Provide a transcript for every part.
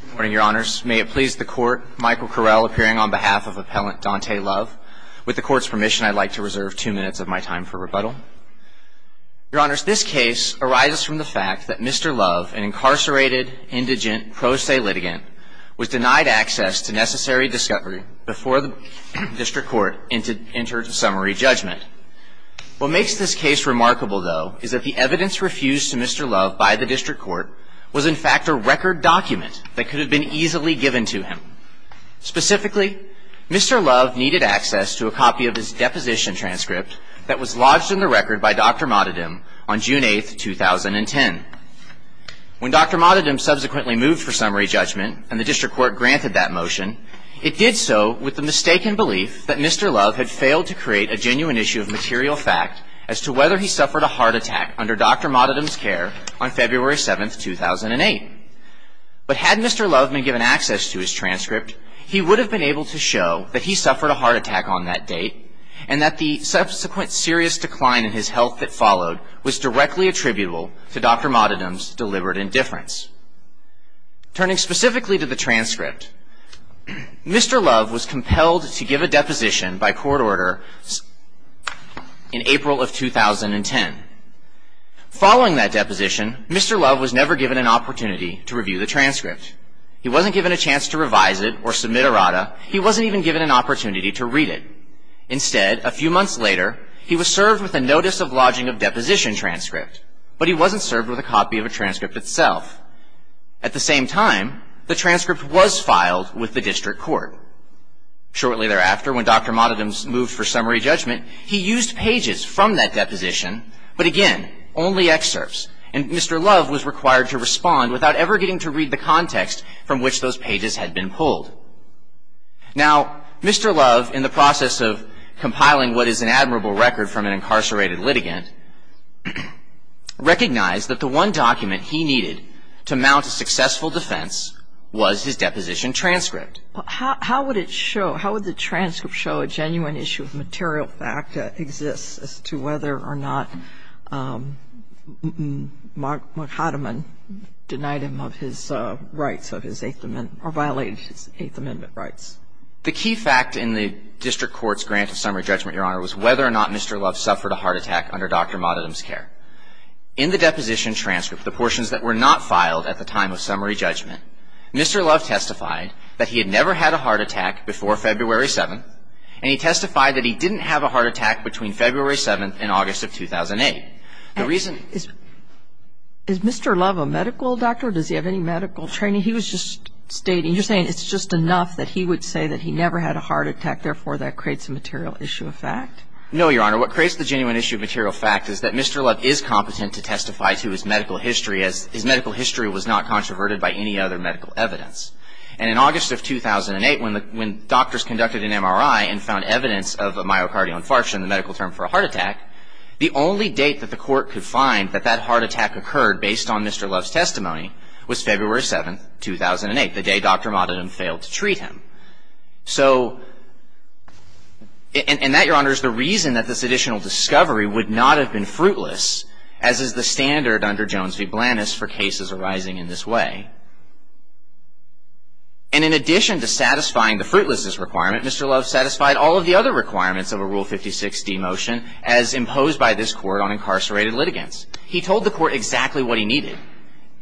Good morning, Your Honors. May it please the Court, Michael Carell appearing on behalf of Appellant Dante Love. With the Court's permission, I'd like to reserve two minutes of my time for rebuttal. Your Honors, this case arises from the fact that Mr. Love, an incarcerated, indigent, pro se litigant, was denied access to necessary discovery before the District Court entered summary judgment. What makes this case remarkable, though, is that the evidence refused to Mr. Love by the District Court was in fact a record document that could have been easily given to him. Specifically, Mr. Love needed access to a copy of his deposition transcript that was lodged in the record by Dr. Modhaddam on June 8, 2010. When Dr. Modhaddam subsequently moved for summary judgment and the District Court granted that motion, it did so with the mistaken belief that Mr. Love had failed to create a genuine issue of material fact as to whether he suffered a heart attack under Dr. Modhaddam's care on February 7, 2008. But had Mr. Love been given access to his transcript, he would have been able to show that he suffered a heart attack on that date and that the subsequent serious decline in his health that followed was directly attributable to Dr. Modhaddam's deliberate indifference. Turning specifically to the transcript, Mr. Love was compelled to give a deposition by court order in April of 2010. Following that deposition, Mr. Love was never given an opportunity to review the transcript. He wasn't given a chance to revise it or submit a RADA. He wasn't even given an opportunity to read it. Instead, a few months later, he was served with a Notice of Lodging of Deposition transcript, but he wasn't served with a copy of a transcript itself. At the same time, the transcript was filed with the District Court. Shortly thereafter, when Dr. Modhaddam moved for summary judgment, he used pages from that deposition, but again, only excerpts, and Mr. Love was required to respond without ever getting to read the context from which those pages had been pulled. Now, Mr. Love, in the process of compiling what is an admirable record from an incarcerated litigant, recognized that the one document he needed to mount a successful defense was his deposition transcript. But how would it show, how would the transcript show a genuine issue of material fact that exists as to whether or not Modhaddam denied him of his rights, of his Eighth Amendment, or violated his Eighth Amendment rights? The key fact in the District Court's grant of summary judgment, Your Honor, was whether or not Mr. Love suffered a heart attack under Dr. Modhaddam's care. In the deposition transcript, the portions that were not filed at the time of summary judgment, Mr. Love testified that he had never had a heart attack before February 7th, and he testified that he didn't have a heart attack between February 7th and August of 2008. The reason Is Mr. Love a medical doctor, or does he have any medical training? He was just stating, you're saying it's just enough that he would say that he never had a heart attack, therefore that creates a material issue of fact? No, Your Honor. What creates the genuine issue of material fact is that Mr. Love is competent to testify to his medical history, as his medical history was not controverted by any other medical evidence. And in August of 2008, when doctors conducted an MRI and found evidence of a myocardial infarction, the medical term for a heart attack, the only date that the court could find that that heart attack occurred, based on Mr. Love's testimony, was February 7th, 2008, the day Dr. Modhaddam failed to treat him. So, and that, Your Honor, is the reason that this additional discovery would not have been fruitless, as is the standard under Jones v. Blandness for cases arising in this way. And in addition to satisfying the fruitlessness requirement, Mr. Love satisfied all of the other requirements of a Rule 56d motion as imposed by this Court on incarcerated litigants. He told the Court exactly what he needed,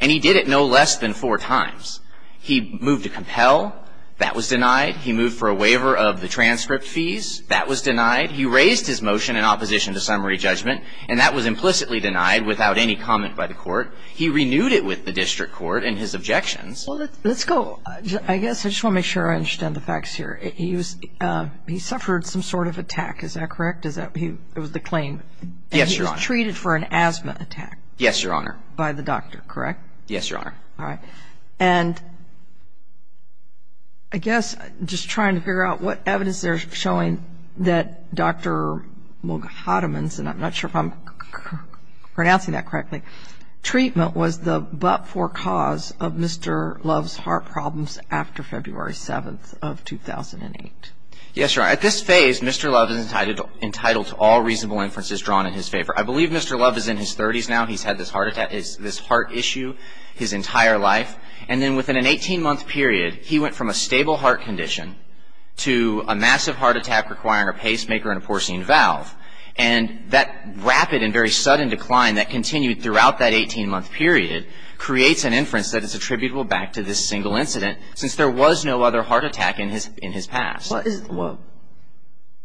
and he did it no less than four times. He moved to compel. That was denied. He moved for a waiver of the transcript fees. That was denied. He raised his motion in opposition to summary judgment, and that was implicitly denied without any comment by the Court. He renewed it with the district court in his objections. Well, let's go. I guess I just want to make sure I understand the facts here. He suffered some sort of attack, is that correct? It was the claim. Yes, Your Honor. And he was treated for an asthma attack. Yes, Your Honor. By the doctor, correct? Yes, Your Honor. All right. And I guess just trying to figure out what evidence they're showing that Dr. Modhaddam, and I'm not sure if I'm pronouncing that correctly, treatment was the but-for cause of Mr. Love's heart problems after February 7th of 2008. Yes, Your Honor. At this phase, Mr. Love is entitled to all reasonable inferences drawn in his favor. I believe Mr. Love is in his 30s now. He's had this heart issue his entire life, and then within an 18-month period, he went from a stable heart condition to a massive heart attack requiring a pacemaker and a porcine valve, and that rapid and very sudden decline that continued throughout that 18-month period creates an inference that is attributable back to this single incident, since there was no other heart attack in his past.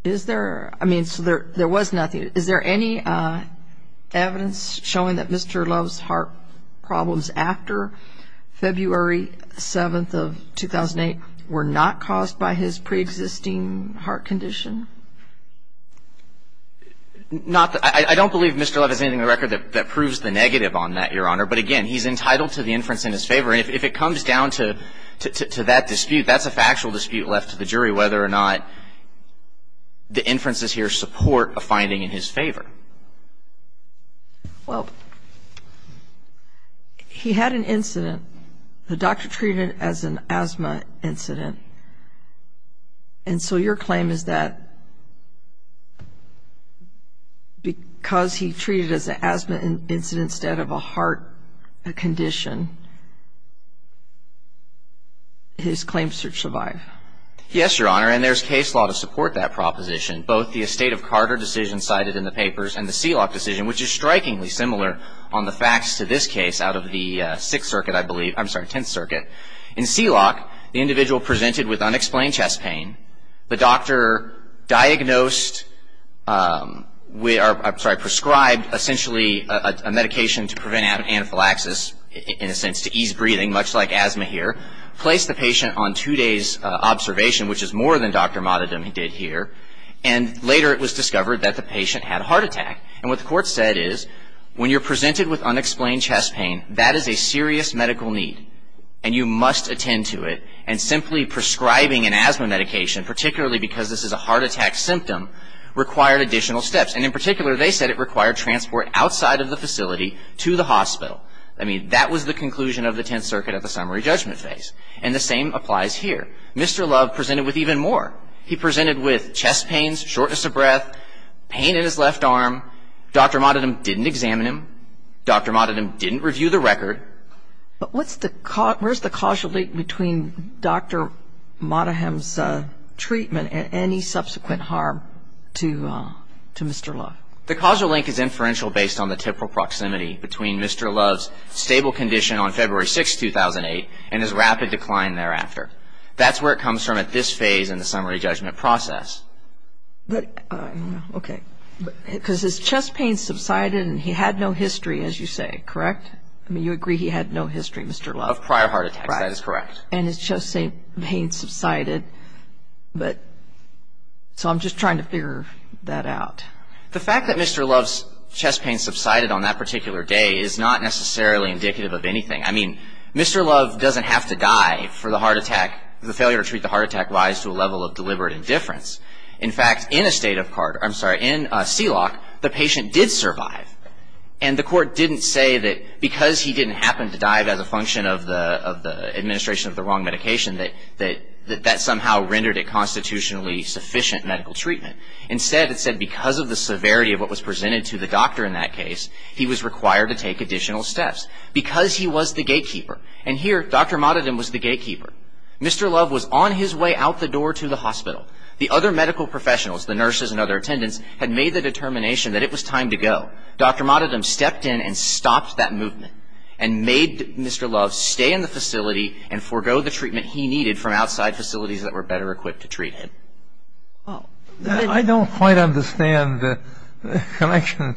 Is there – I mean, so there was nothing. Is there any evidence showing that Mr. Love's heart problems after February 7th of 2008 were not caused by his preexisting heart condition? Not that – I don't believe Mr. Love has anything in the record that proves the negative on that, Your Honor. But again, he's entitled to the inference in his favor, and if it comes down to that dispute, that's a factual dispute left to the jury whether or not the inferences here support a finding in his favor. Well, he had an incident. The doctor treated it as an asthma incident, and so your claim is that because he treated it as an asthma incident instead of a heart condition, his claims should survive. Yes, Your Honor, and there's case law to support that proposition, both the Estate of Carter decision cited in the papers and the Seelock decision, which is strikingly similar on the facts to this case out of the Sixth Circuit, I believe – I'm sorry, Tenth Circuit. In Seelock, the individual presented with unexplained chest pain. The doctor diagnosed – I'm sorry, prescribed, essentially, a medication to prevent anaphylaxis, in a sense, to ease breathing, much like asthma here, placed the patient on two days' observation, which is more than Dr. Motadom did here, and later it was discovered that the patient had a heart attack. And what the court said is, when you're presented with unexplained chest pain, that is a serious medical need, and you must attend to it. And simply prescribing an asthma medication, particularly because this is a heart attack symptom, required additional steps. And in particular, they said it required transport outside of the facility to the hospital. I mean, that was the conclusion of the Tenth Circuit at the summary judgment phase. And the same applies here. Mr. Love presented with even more. He presented with chest pains, shortness of breath, pain in his left arm. Dr. Motadom didn't examine him. Dr. Motadom didn't review the record. But where's the causal link between Dr. Motadom's treatment and any subsequent harm to Mr. Love? The causal link is inferential based on the temporal proximity between Mr. Love's stable condition on February 6, 2008, and his rapid decline thereafter. That's where it comes from at this phase in the summary judgment process. But, okay, because his chest pain subsided and he had no history, as you say, correct? I mean, you agree he had no history, Mr. Love? Of prior heart attacks, that is correct. Right. And his chest pain subsided, but so I'm just trying to figure that out. The fact that Mr. Love's chest pain subsided on that particular day is not necessarily indicative of anything. I mean, Mr. Love doesn't have to die for the heart attack, the failure to treat the heart attack lies to a level of deliberate indifference. In fact, in a state of CART, I'm sorry, in CELOC, the patient did survive. And the court didn't say that because he didn't happen to die as a function of the administration of the wrong medication that that somehow rendered it constitutionally sufficient medical treatment. Instead, it said because of the severity of what was presented to the doctor in that case, he was required to take additional steps, because he was the gatekeeper. And here, Dr. Matadon was the gatekeeper. Mr. Love was on his way out the door to the hospital. The other medical professionals, the nurses and other attendants, had made the determination that it was time to go. Dr. Matadon stepped in and stopped that movement and made Mr. Love stay in the facility and forego the treatment he needed from outside facilities that were better equipped to treat him. I don't quite understand the connection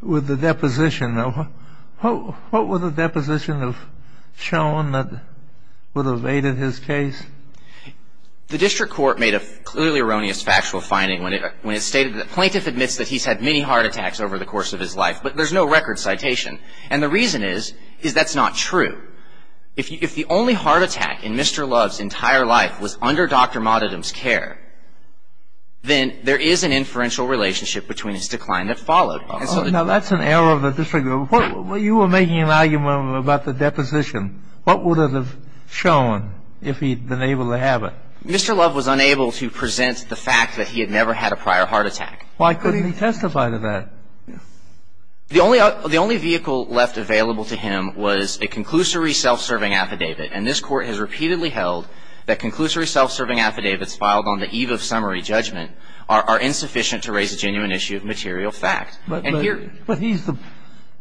with the deposition. What would the deposition have shown that would have aided his case? The district court made a clearly erroneous factual finding when it stated that the plaintiff admits that he's had many heart attacks over the course of his life, but there's no record citation. And the reason is, is that's not true. If the only heart attack in Mr. Love's entire life was under Dr. Matadon's care, then there is an inferential relationship between his decline that followed. Now, that's an error of the district court. You were making an argument about the deposition. What would it have shown if he'd been able to have it? Mr. Love was unable to present the fact that he had never had a prior heart attack. Why couldn't he testify to that? The only vehicle left available to him was a conclusory self-serving affidavit, and this Court has repeatedly held that conclusory self-serving affidavits filed on the eve of summary judgment are insufficient to raise a genuine issue of material fact. But he's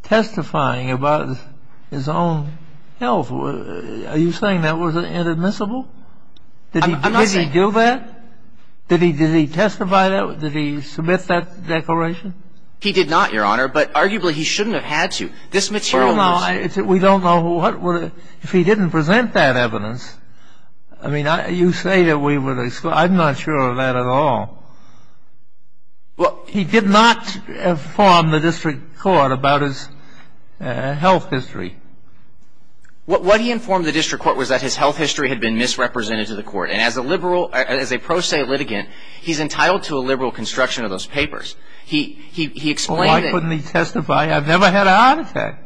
testifying about his own health. Are you saying that was inadmissible? Did he do that? Did he testify to that? Did he submit that declaration? He did not, Your Honor, but arguably he shouldn't have had to. This material was ---- Well, now, we don't know what would have ---- if he didn't present that evidence, I mean, you say that we would have ---- I'm not sure of that at all. Well, he did not inform the district court about his health history. What he informed the district court was that his health history had been misrepresented to the court. And as a liberal ---- as a pro se litigant, he's entitled to a liberal construction of those papers. He explained that ---- Well, why couldn't he testify? I've never had a heart attack.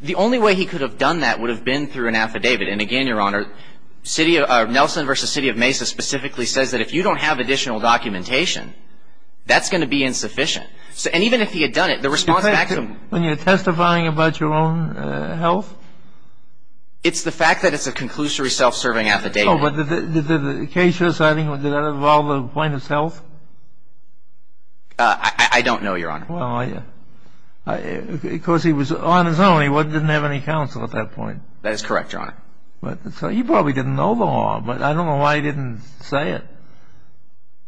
The only way he could have done that would have been through an affidavit. And again, Your Honor, Nelson v. City of Mesa specifically says that if you don't have additional documentation, that's going to be insufficient. And even if he had done it, the response back to him ---- When you're testifying about your own health? It's the fact that it's a conclusory self-serving affidavit. Oh, but did the case you're citing, did that involve a point of self? I don't know, Your Honor. Well, I ---- because he was on his own. He didn't have any counsel at that point. That is correct, Your Honor. So he probably didn't know the law, but I don't know why he didn't say it.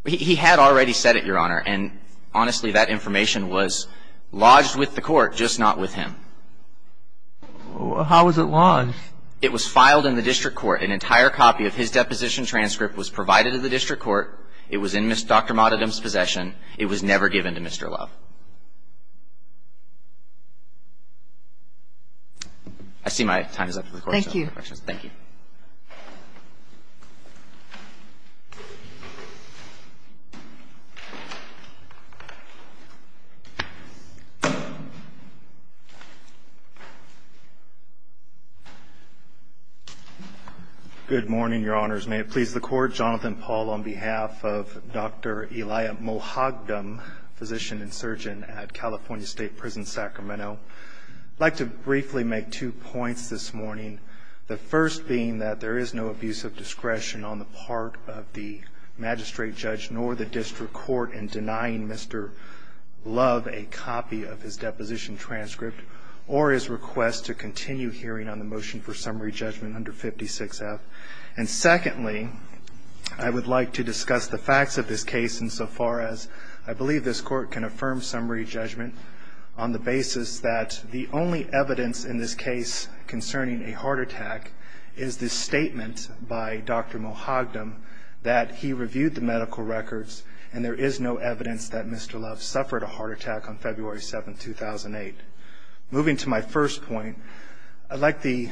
He had already said it, Your Honor. And honestly, that information was lodged with the court, just not with him. How was it lodged? It was filed in the district court. An entire copy of his deposition transcript was provided to the district court. It was in Dr. Mottadam's possession. It was never given to Mr. Love. I see my time is up. Thank you. Any questions? Thank you. Good morning, Your Honors. May it please the Court, Jonathan Paul on behalf of Dr. Elia Mohagdam, physician and surgeon at California State Prison, Sacramento. I'd like to briefly make two points this morning. The first being that there is no abuse of discretion on the part of the magistrate judge nor the district court in denying Mr. Love a copy of his deposition transcript or his request to continue hearing on the motion for summary judgment under 56F. And secondly, I would like to discuss the facts of this case insofar as I believe this court can affirm summary judgment on the basis that the only evidence in this case concerning a heart attack is the statement by Dr. Mohagdam that he reviewed the medical records and there is no evidence that Mr. Love suffered a heart attack on February 7, 2008. Moving to my first point, I'd like the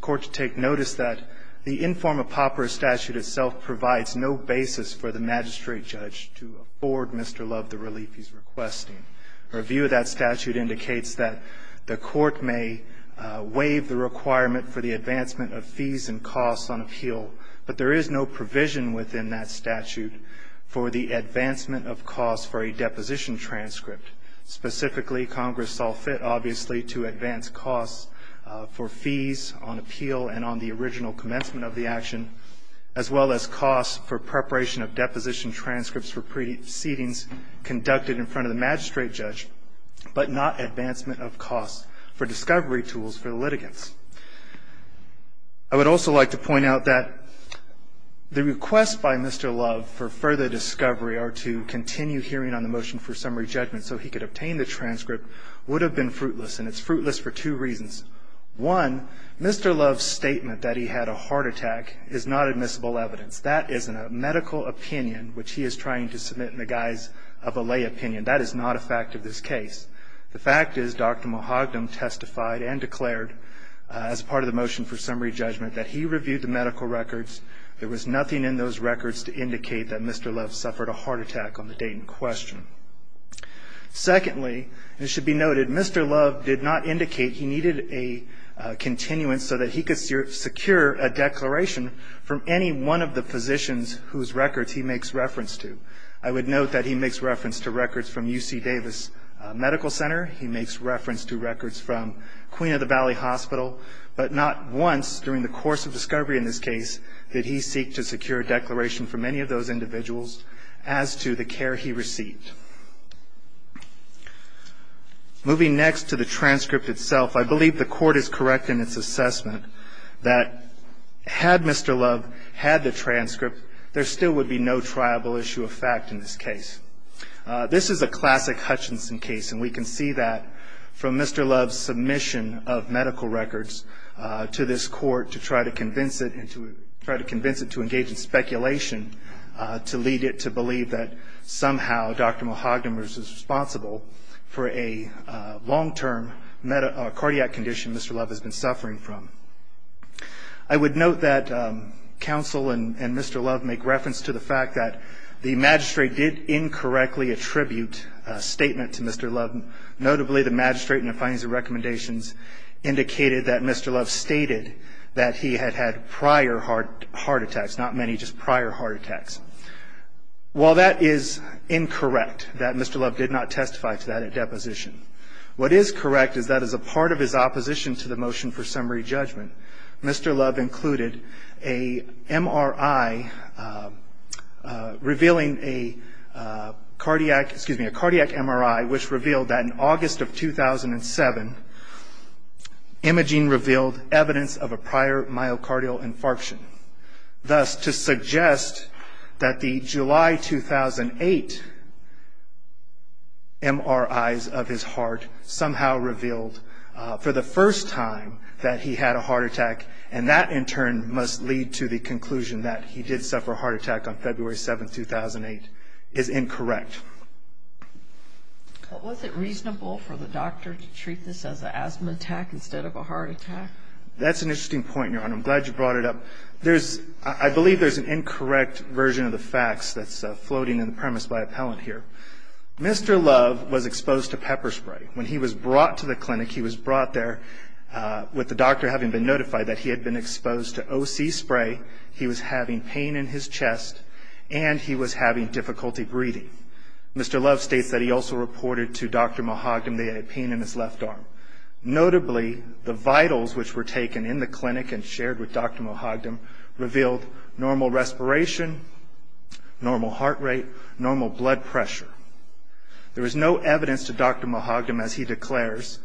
court to take notice that the inform-a-pauper statute itself provides no basis for the magistrate judge to afford Mr. Love the relief he's requesting. A review of that statute indicates that the court may waive the requirement for the advancement of fees and costs on appeal, but there is no provision within that statute for the advancement of costs for a deposition transcript. Specifically, Congress saw fit, obviously, to advance costs for fees on appeal and on the original commencement of the action, as well as costs for preparation of deposition transcripts for proceedings conducted in front of the magistrate judge, but not advancement of costs for discovery tools for the litigants. I would also like to point out that the request by Mr. Love for further discovery or to continue hearing on the motion for summary judgment so he could obtain the transcript would have been fruitless, and it's fruitless for two reasons. One, Mr. Love's statement that he had a heart attack is not admissible evidence. That is a medical opinion which he is trying to submit in the guise of a lay opinion. That is not a fact of this case. The fact is Dr. Mahogany testified and declared as part of the motion for summary judgment that he reviewed the medical records. There was nothing in those records to indicate that Mr. Love suffered a heart attack on the date in question. Secondly, it should be noted Mr. Love did not indicate he needed a continuance so that he could secure a declaration from any one of the physicians whose records he makes reference to. I would note that he makes reference to records from UC Davis Medical Center. He makes reference to records from Queen of the Valley Hospital, but not once during the course of discovery in this case did he seek to secure a declaration from any of those individuals as to the care he received. Moving next to the transcript itself, I believe the court is correct in its assessment that had Mr. Love had the transcript, there still would be no triable issue of fact in this case. This is a classic Hutchinson case, and we can see that from Mr. Love's submission of medical records to this court to try to convince it to engage in speculation to lead it to believe that somehow Dr. Mahogany was responsible for a long-term cardiac condition Mr. Love has been suffering from. I would note that counsel and Mr. Love make reference to the fact that the magistrate did incorrectly attribute a statement to Mr. Love. Notably, the magistrate in the findings and recommendations indicated that Mr. Love stated that he had had prior heart attacks, not many, just prior heart attacks. While that is incorrect, that Mr. Love did not testify to that at deposition, what is correct is that as a part of his opposition to the motion for summary judgment, Mr. Love included a MRI revealing a cardiac MRI which revealed that in August of 2007, imaging revealed evidence of a prior myocardial infarction. Thus, to suggest that the July 2008 MRIs of his heart somehow revealed for the first time that he had a heart attack and that in turn must lead to the conclusion that he did suffer a heart attack on February 7, 2008 is incorrect. But was it reasonable for the doctor to treat this as an asthma attack instead of a heart attack? That's an interesting point, Your Honor. I'm glad you brought it up. I believe there's an incorrect version of the facts that's floating in the premise by appellant here. Mr. Love was exposed to pepper spray. When he was brought to the clinic, he was brought there with the doctor having been notified that he had been exposed to O.C. spray, he was having pain in his chest, and he was having difficulty breathing. Mr. Love states that he also reported to Dr. Mahogam that he had pain in his left arm. Notably, the vitals which were taken in the clinic and shared with Dr. Mahogam revealed normal respiration, normal heart rate, normal blood pressure. There was no evidence to Dr. Mahogam, as he declares,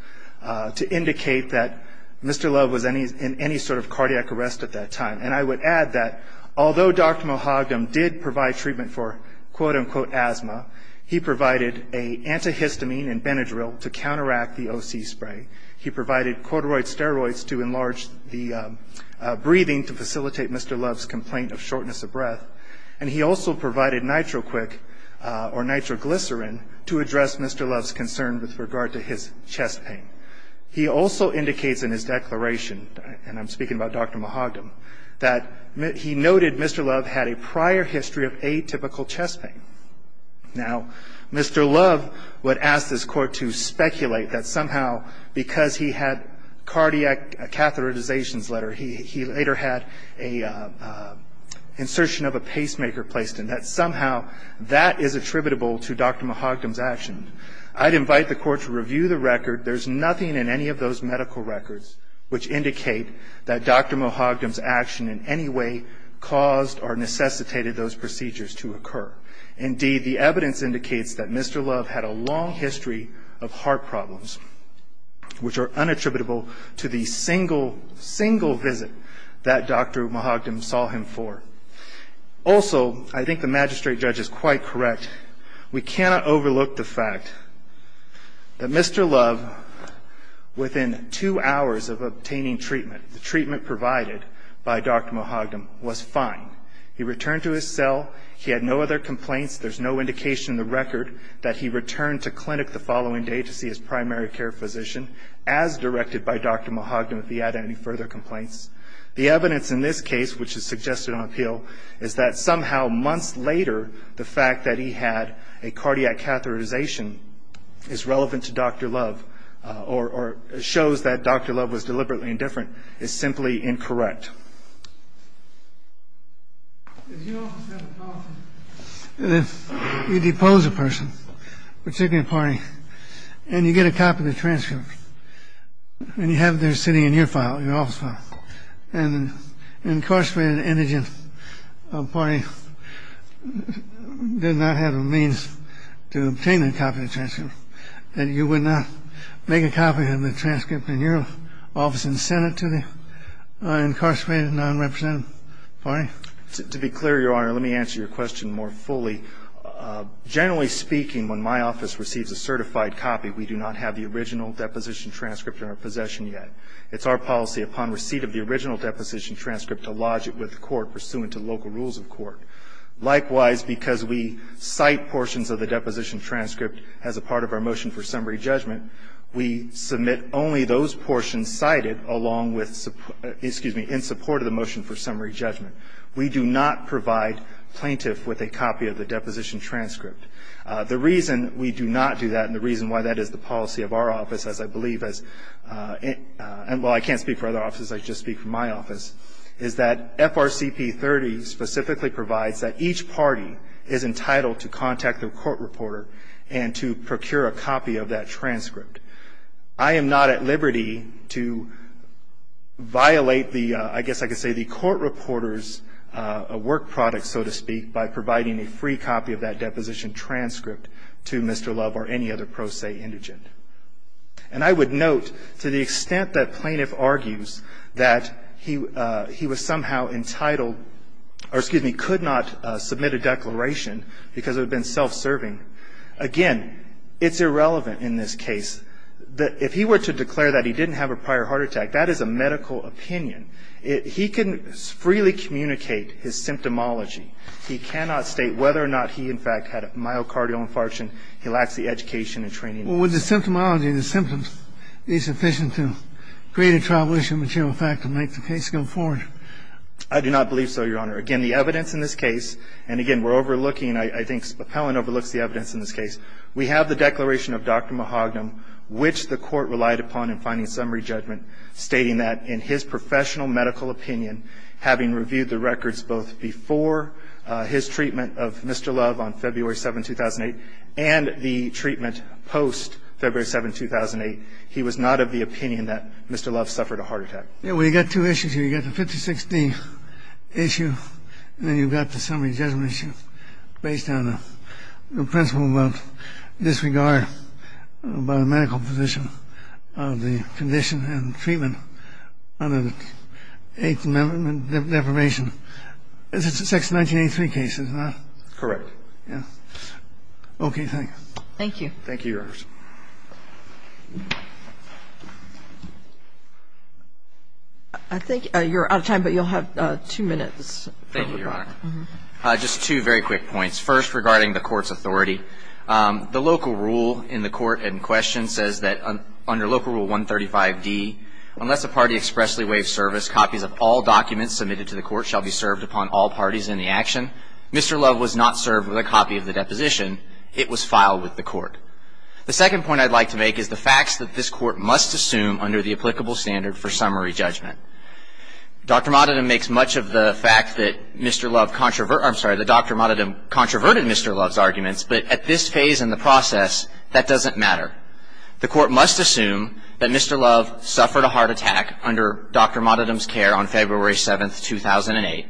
to indicate that Mr. Love was in any sort of cardiac arrest at that time. And I would add that although Dr. Mahogam did provide treatment for quote-unquote asthma, he provided an antihistamine and Benadryl to counteract the O.C. spray. He provided corduroy steroids to enlarge the breathing to facilitate Mr. Love's complaint of shortness of breath. And he also provided nitroquick or nitroglycerin to address Mr. Love's concern with regard to his chest pain. He also indicates in his declaration, and I'm speaking about Dr. Mahogam, that he noted Mr. Love had a prior history of atypical chest pain. Now, Mr. Love would ask this court to speculate that somehow, because he had a cardiac catheterization letter, he later had an insertion of a pacemaker placed in, that somehow that is attributable to Dr. Mahogam's action. I'd invite the court to review the record. There's nothing in any of those medical records which indicate that Dr. Mahogam's action in any way caused or necessitated those procedures to occur. Indeed, the evidence indicates that Mr. Love had a long history of heart problems, which are unattributable to the single, single visit that Dr. Mahogam saw him for. Also, I think the magistrate judge is quite correct, we cannot overlook the fact that Mr. Love, within two hours of obtaining treatment, the treatment provided by Dr. Mahogam, was fine. He returned to his cell. He had no other complaints. There's no indication in the record that he returned to clinic the following day to see his primary care physician, as directed by Dr. Mahogam, if he had any further complaints. The evidence in this case, which is suggested on appeal, is that somehow months later the fact that he had a cardiac catheterization is relevant to Dr. Love, or shows that Dr. Love was deliberately indifferent, is simply incorrect. If you also have a policy that you depose a person, particularly a party, and you get a copy of the transcript, and you have it there sitting in your file, your office file, and an incarcerated indigent party did not have a means to obtain a copy of the transcript, then you would not make a copy of the transcript in your office and send it to the incarcerated nonrepresentative party? To be clear, Your Honor, let me answer your question more fully. Generally speaking, when my office receives a certified copy, we do not have the original deposition transcript in our possession yet. It's our policy, upon receipt of the original deposition transcript, to lodge it with the court pursuant to local rules of court. Likewise, because we cite portions of the deposition transcript as a part of our motion for summary judgment, we submit only those portions cited along with, excuse me, in support of the motion for summary judgment. We do not provide plaintiff with a copy of the deposition transcript. The reason we do not do that, and the reason why that is the policy of our office, as I believe, and while I can't speak for other offices, I just speak for my office, is that FRCP 30 specifically provides that each party is entitled to contact their court reporter and to procure a copy of that transcript. I am not at liberty to violate the, I guess I could say the court reporter's work product, so to speak, by providing a free copy of that deposition transcript to Mr. Love or any other pro se indigent. And I would note, to the extent that plaintiff argues that he was somehow entitled or, excuse me, could not submit a declaration because it had been self-serving, again, it's irrelevant in this case. If he were to declare that he didn't have a prior heart attack, that is a medical opinion. He can freely communicate his symptomology. He cannot state whether or not he, in fact, had a myocardial infarction, he lacks the education and training. Well, would the symptomology of the symptoms be sufficient to create a tribulation material effect and make the case go forward? I do not believe so, Your Honor. Again, the evidence in this case, and again, we're overlooking, I think Spopelin overlooks the evidence in this case. We have the declaration of Dr. Mahogany, which the court relied upon in finding summary judgment, stating that in his professional medical opinion, having reviewed the records both before his treatment of Mr. Love on February 7, 2008, and the treatment post-February 7, 2008, he was not of the opinion that Mr. Love suffered a heart attack. Yeah, well, you've got two issues here. You've got the 50-60 issue, and then you've got the summary judgment issue based on the principle of disregard by the medical physician of the condition and treatment under the Eighth Amendment deprivation. This is a Section 1983 case, is it not? Correct. Okay. Thank you. Thank you. Thank you, Your Honor. I think you're out of time, but you'll have two minutes. Thank you, Your Honor. Just two very quick points. First, regarding the court's authority, the local rule in the court in question says that under Local Rule 135d, unless a party expressly waives service, copies of all documents submitted to the court shall be served upon all parties in the action. Mr. Love was not served with a copy of the deposition. It was filed with the court. The second point I'd like to make is the facts that this court must assume under the applicable standard for summary judgment. Dr. Modadam makes much of the fact that Mr. Love, I'm sorry, that Dr. Modadam controverted Mr. Love's arguments, but at this phase in the process, that doesn't matter. The court must assume that Mr. Love suffered a heart attack under Dr. Modadam's care on February 7, 2008.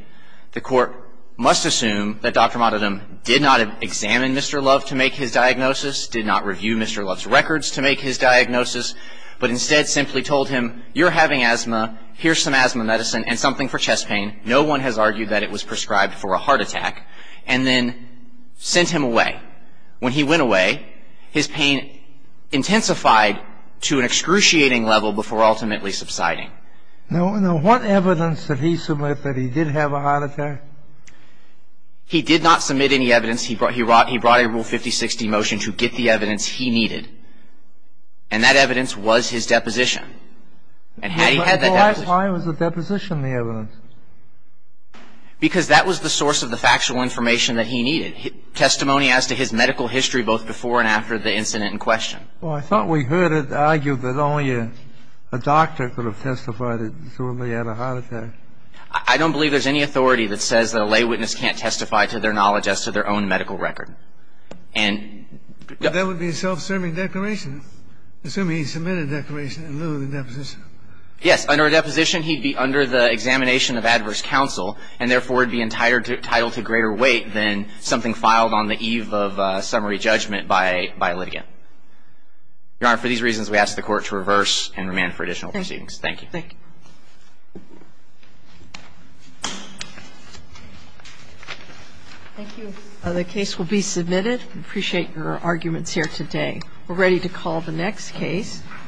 The court must assume that Dr. Modadam did not examine Mr. Love to make his diagnosis, did not review Mr. Love's records to make his diagnosis, but instead simply told him, you're having asthma, here's some asthma medicine and something for chest pain, no one has argued that it was prescribed for a heart attack, and then sent him away. When he went away, his pain intensified to an excruciating level before ultimately subsiding. Now, what evidence did he submit that he did have a heart attack? He did not submit any evidence. He brought a Rule 5060 motion to get the evidence he needed, and that evidence was his deposition. And had he had that deposition Why was the deposition the evidence? Because that was the source of the factual information that he needed, testimony Well, I thought we heard it argued that only a doctor could have testified that he had a heart attack. I don't believe there's any authority that says that a lay witness can't testify to their knowledge as to their own medical record. And But that would be a self-serving declaration, assuming he submitted a declaration in lieu of a deposition. Yes. Under a deposition, he'd be under the examination of adverse counsel, and therefore would be entitled to greater weight than something filed on the eve of summary judgment by litigant. Your Honor, for these reasons, we ask the Court to reverse and remand for additional proceedings. Thank you. Thank you. The case will be submitted. We appreciate your arguments here today. We're ready to call the next case.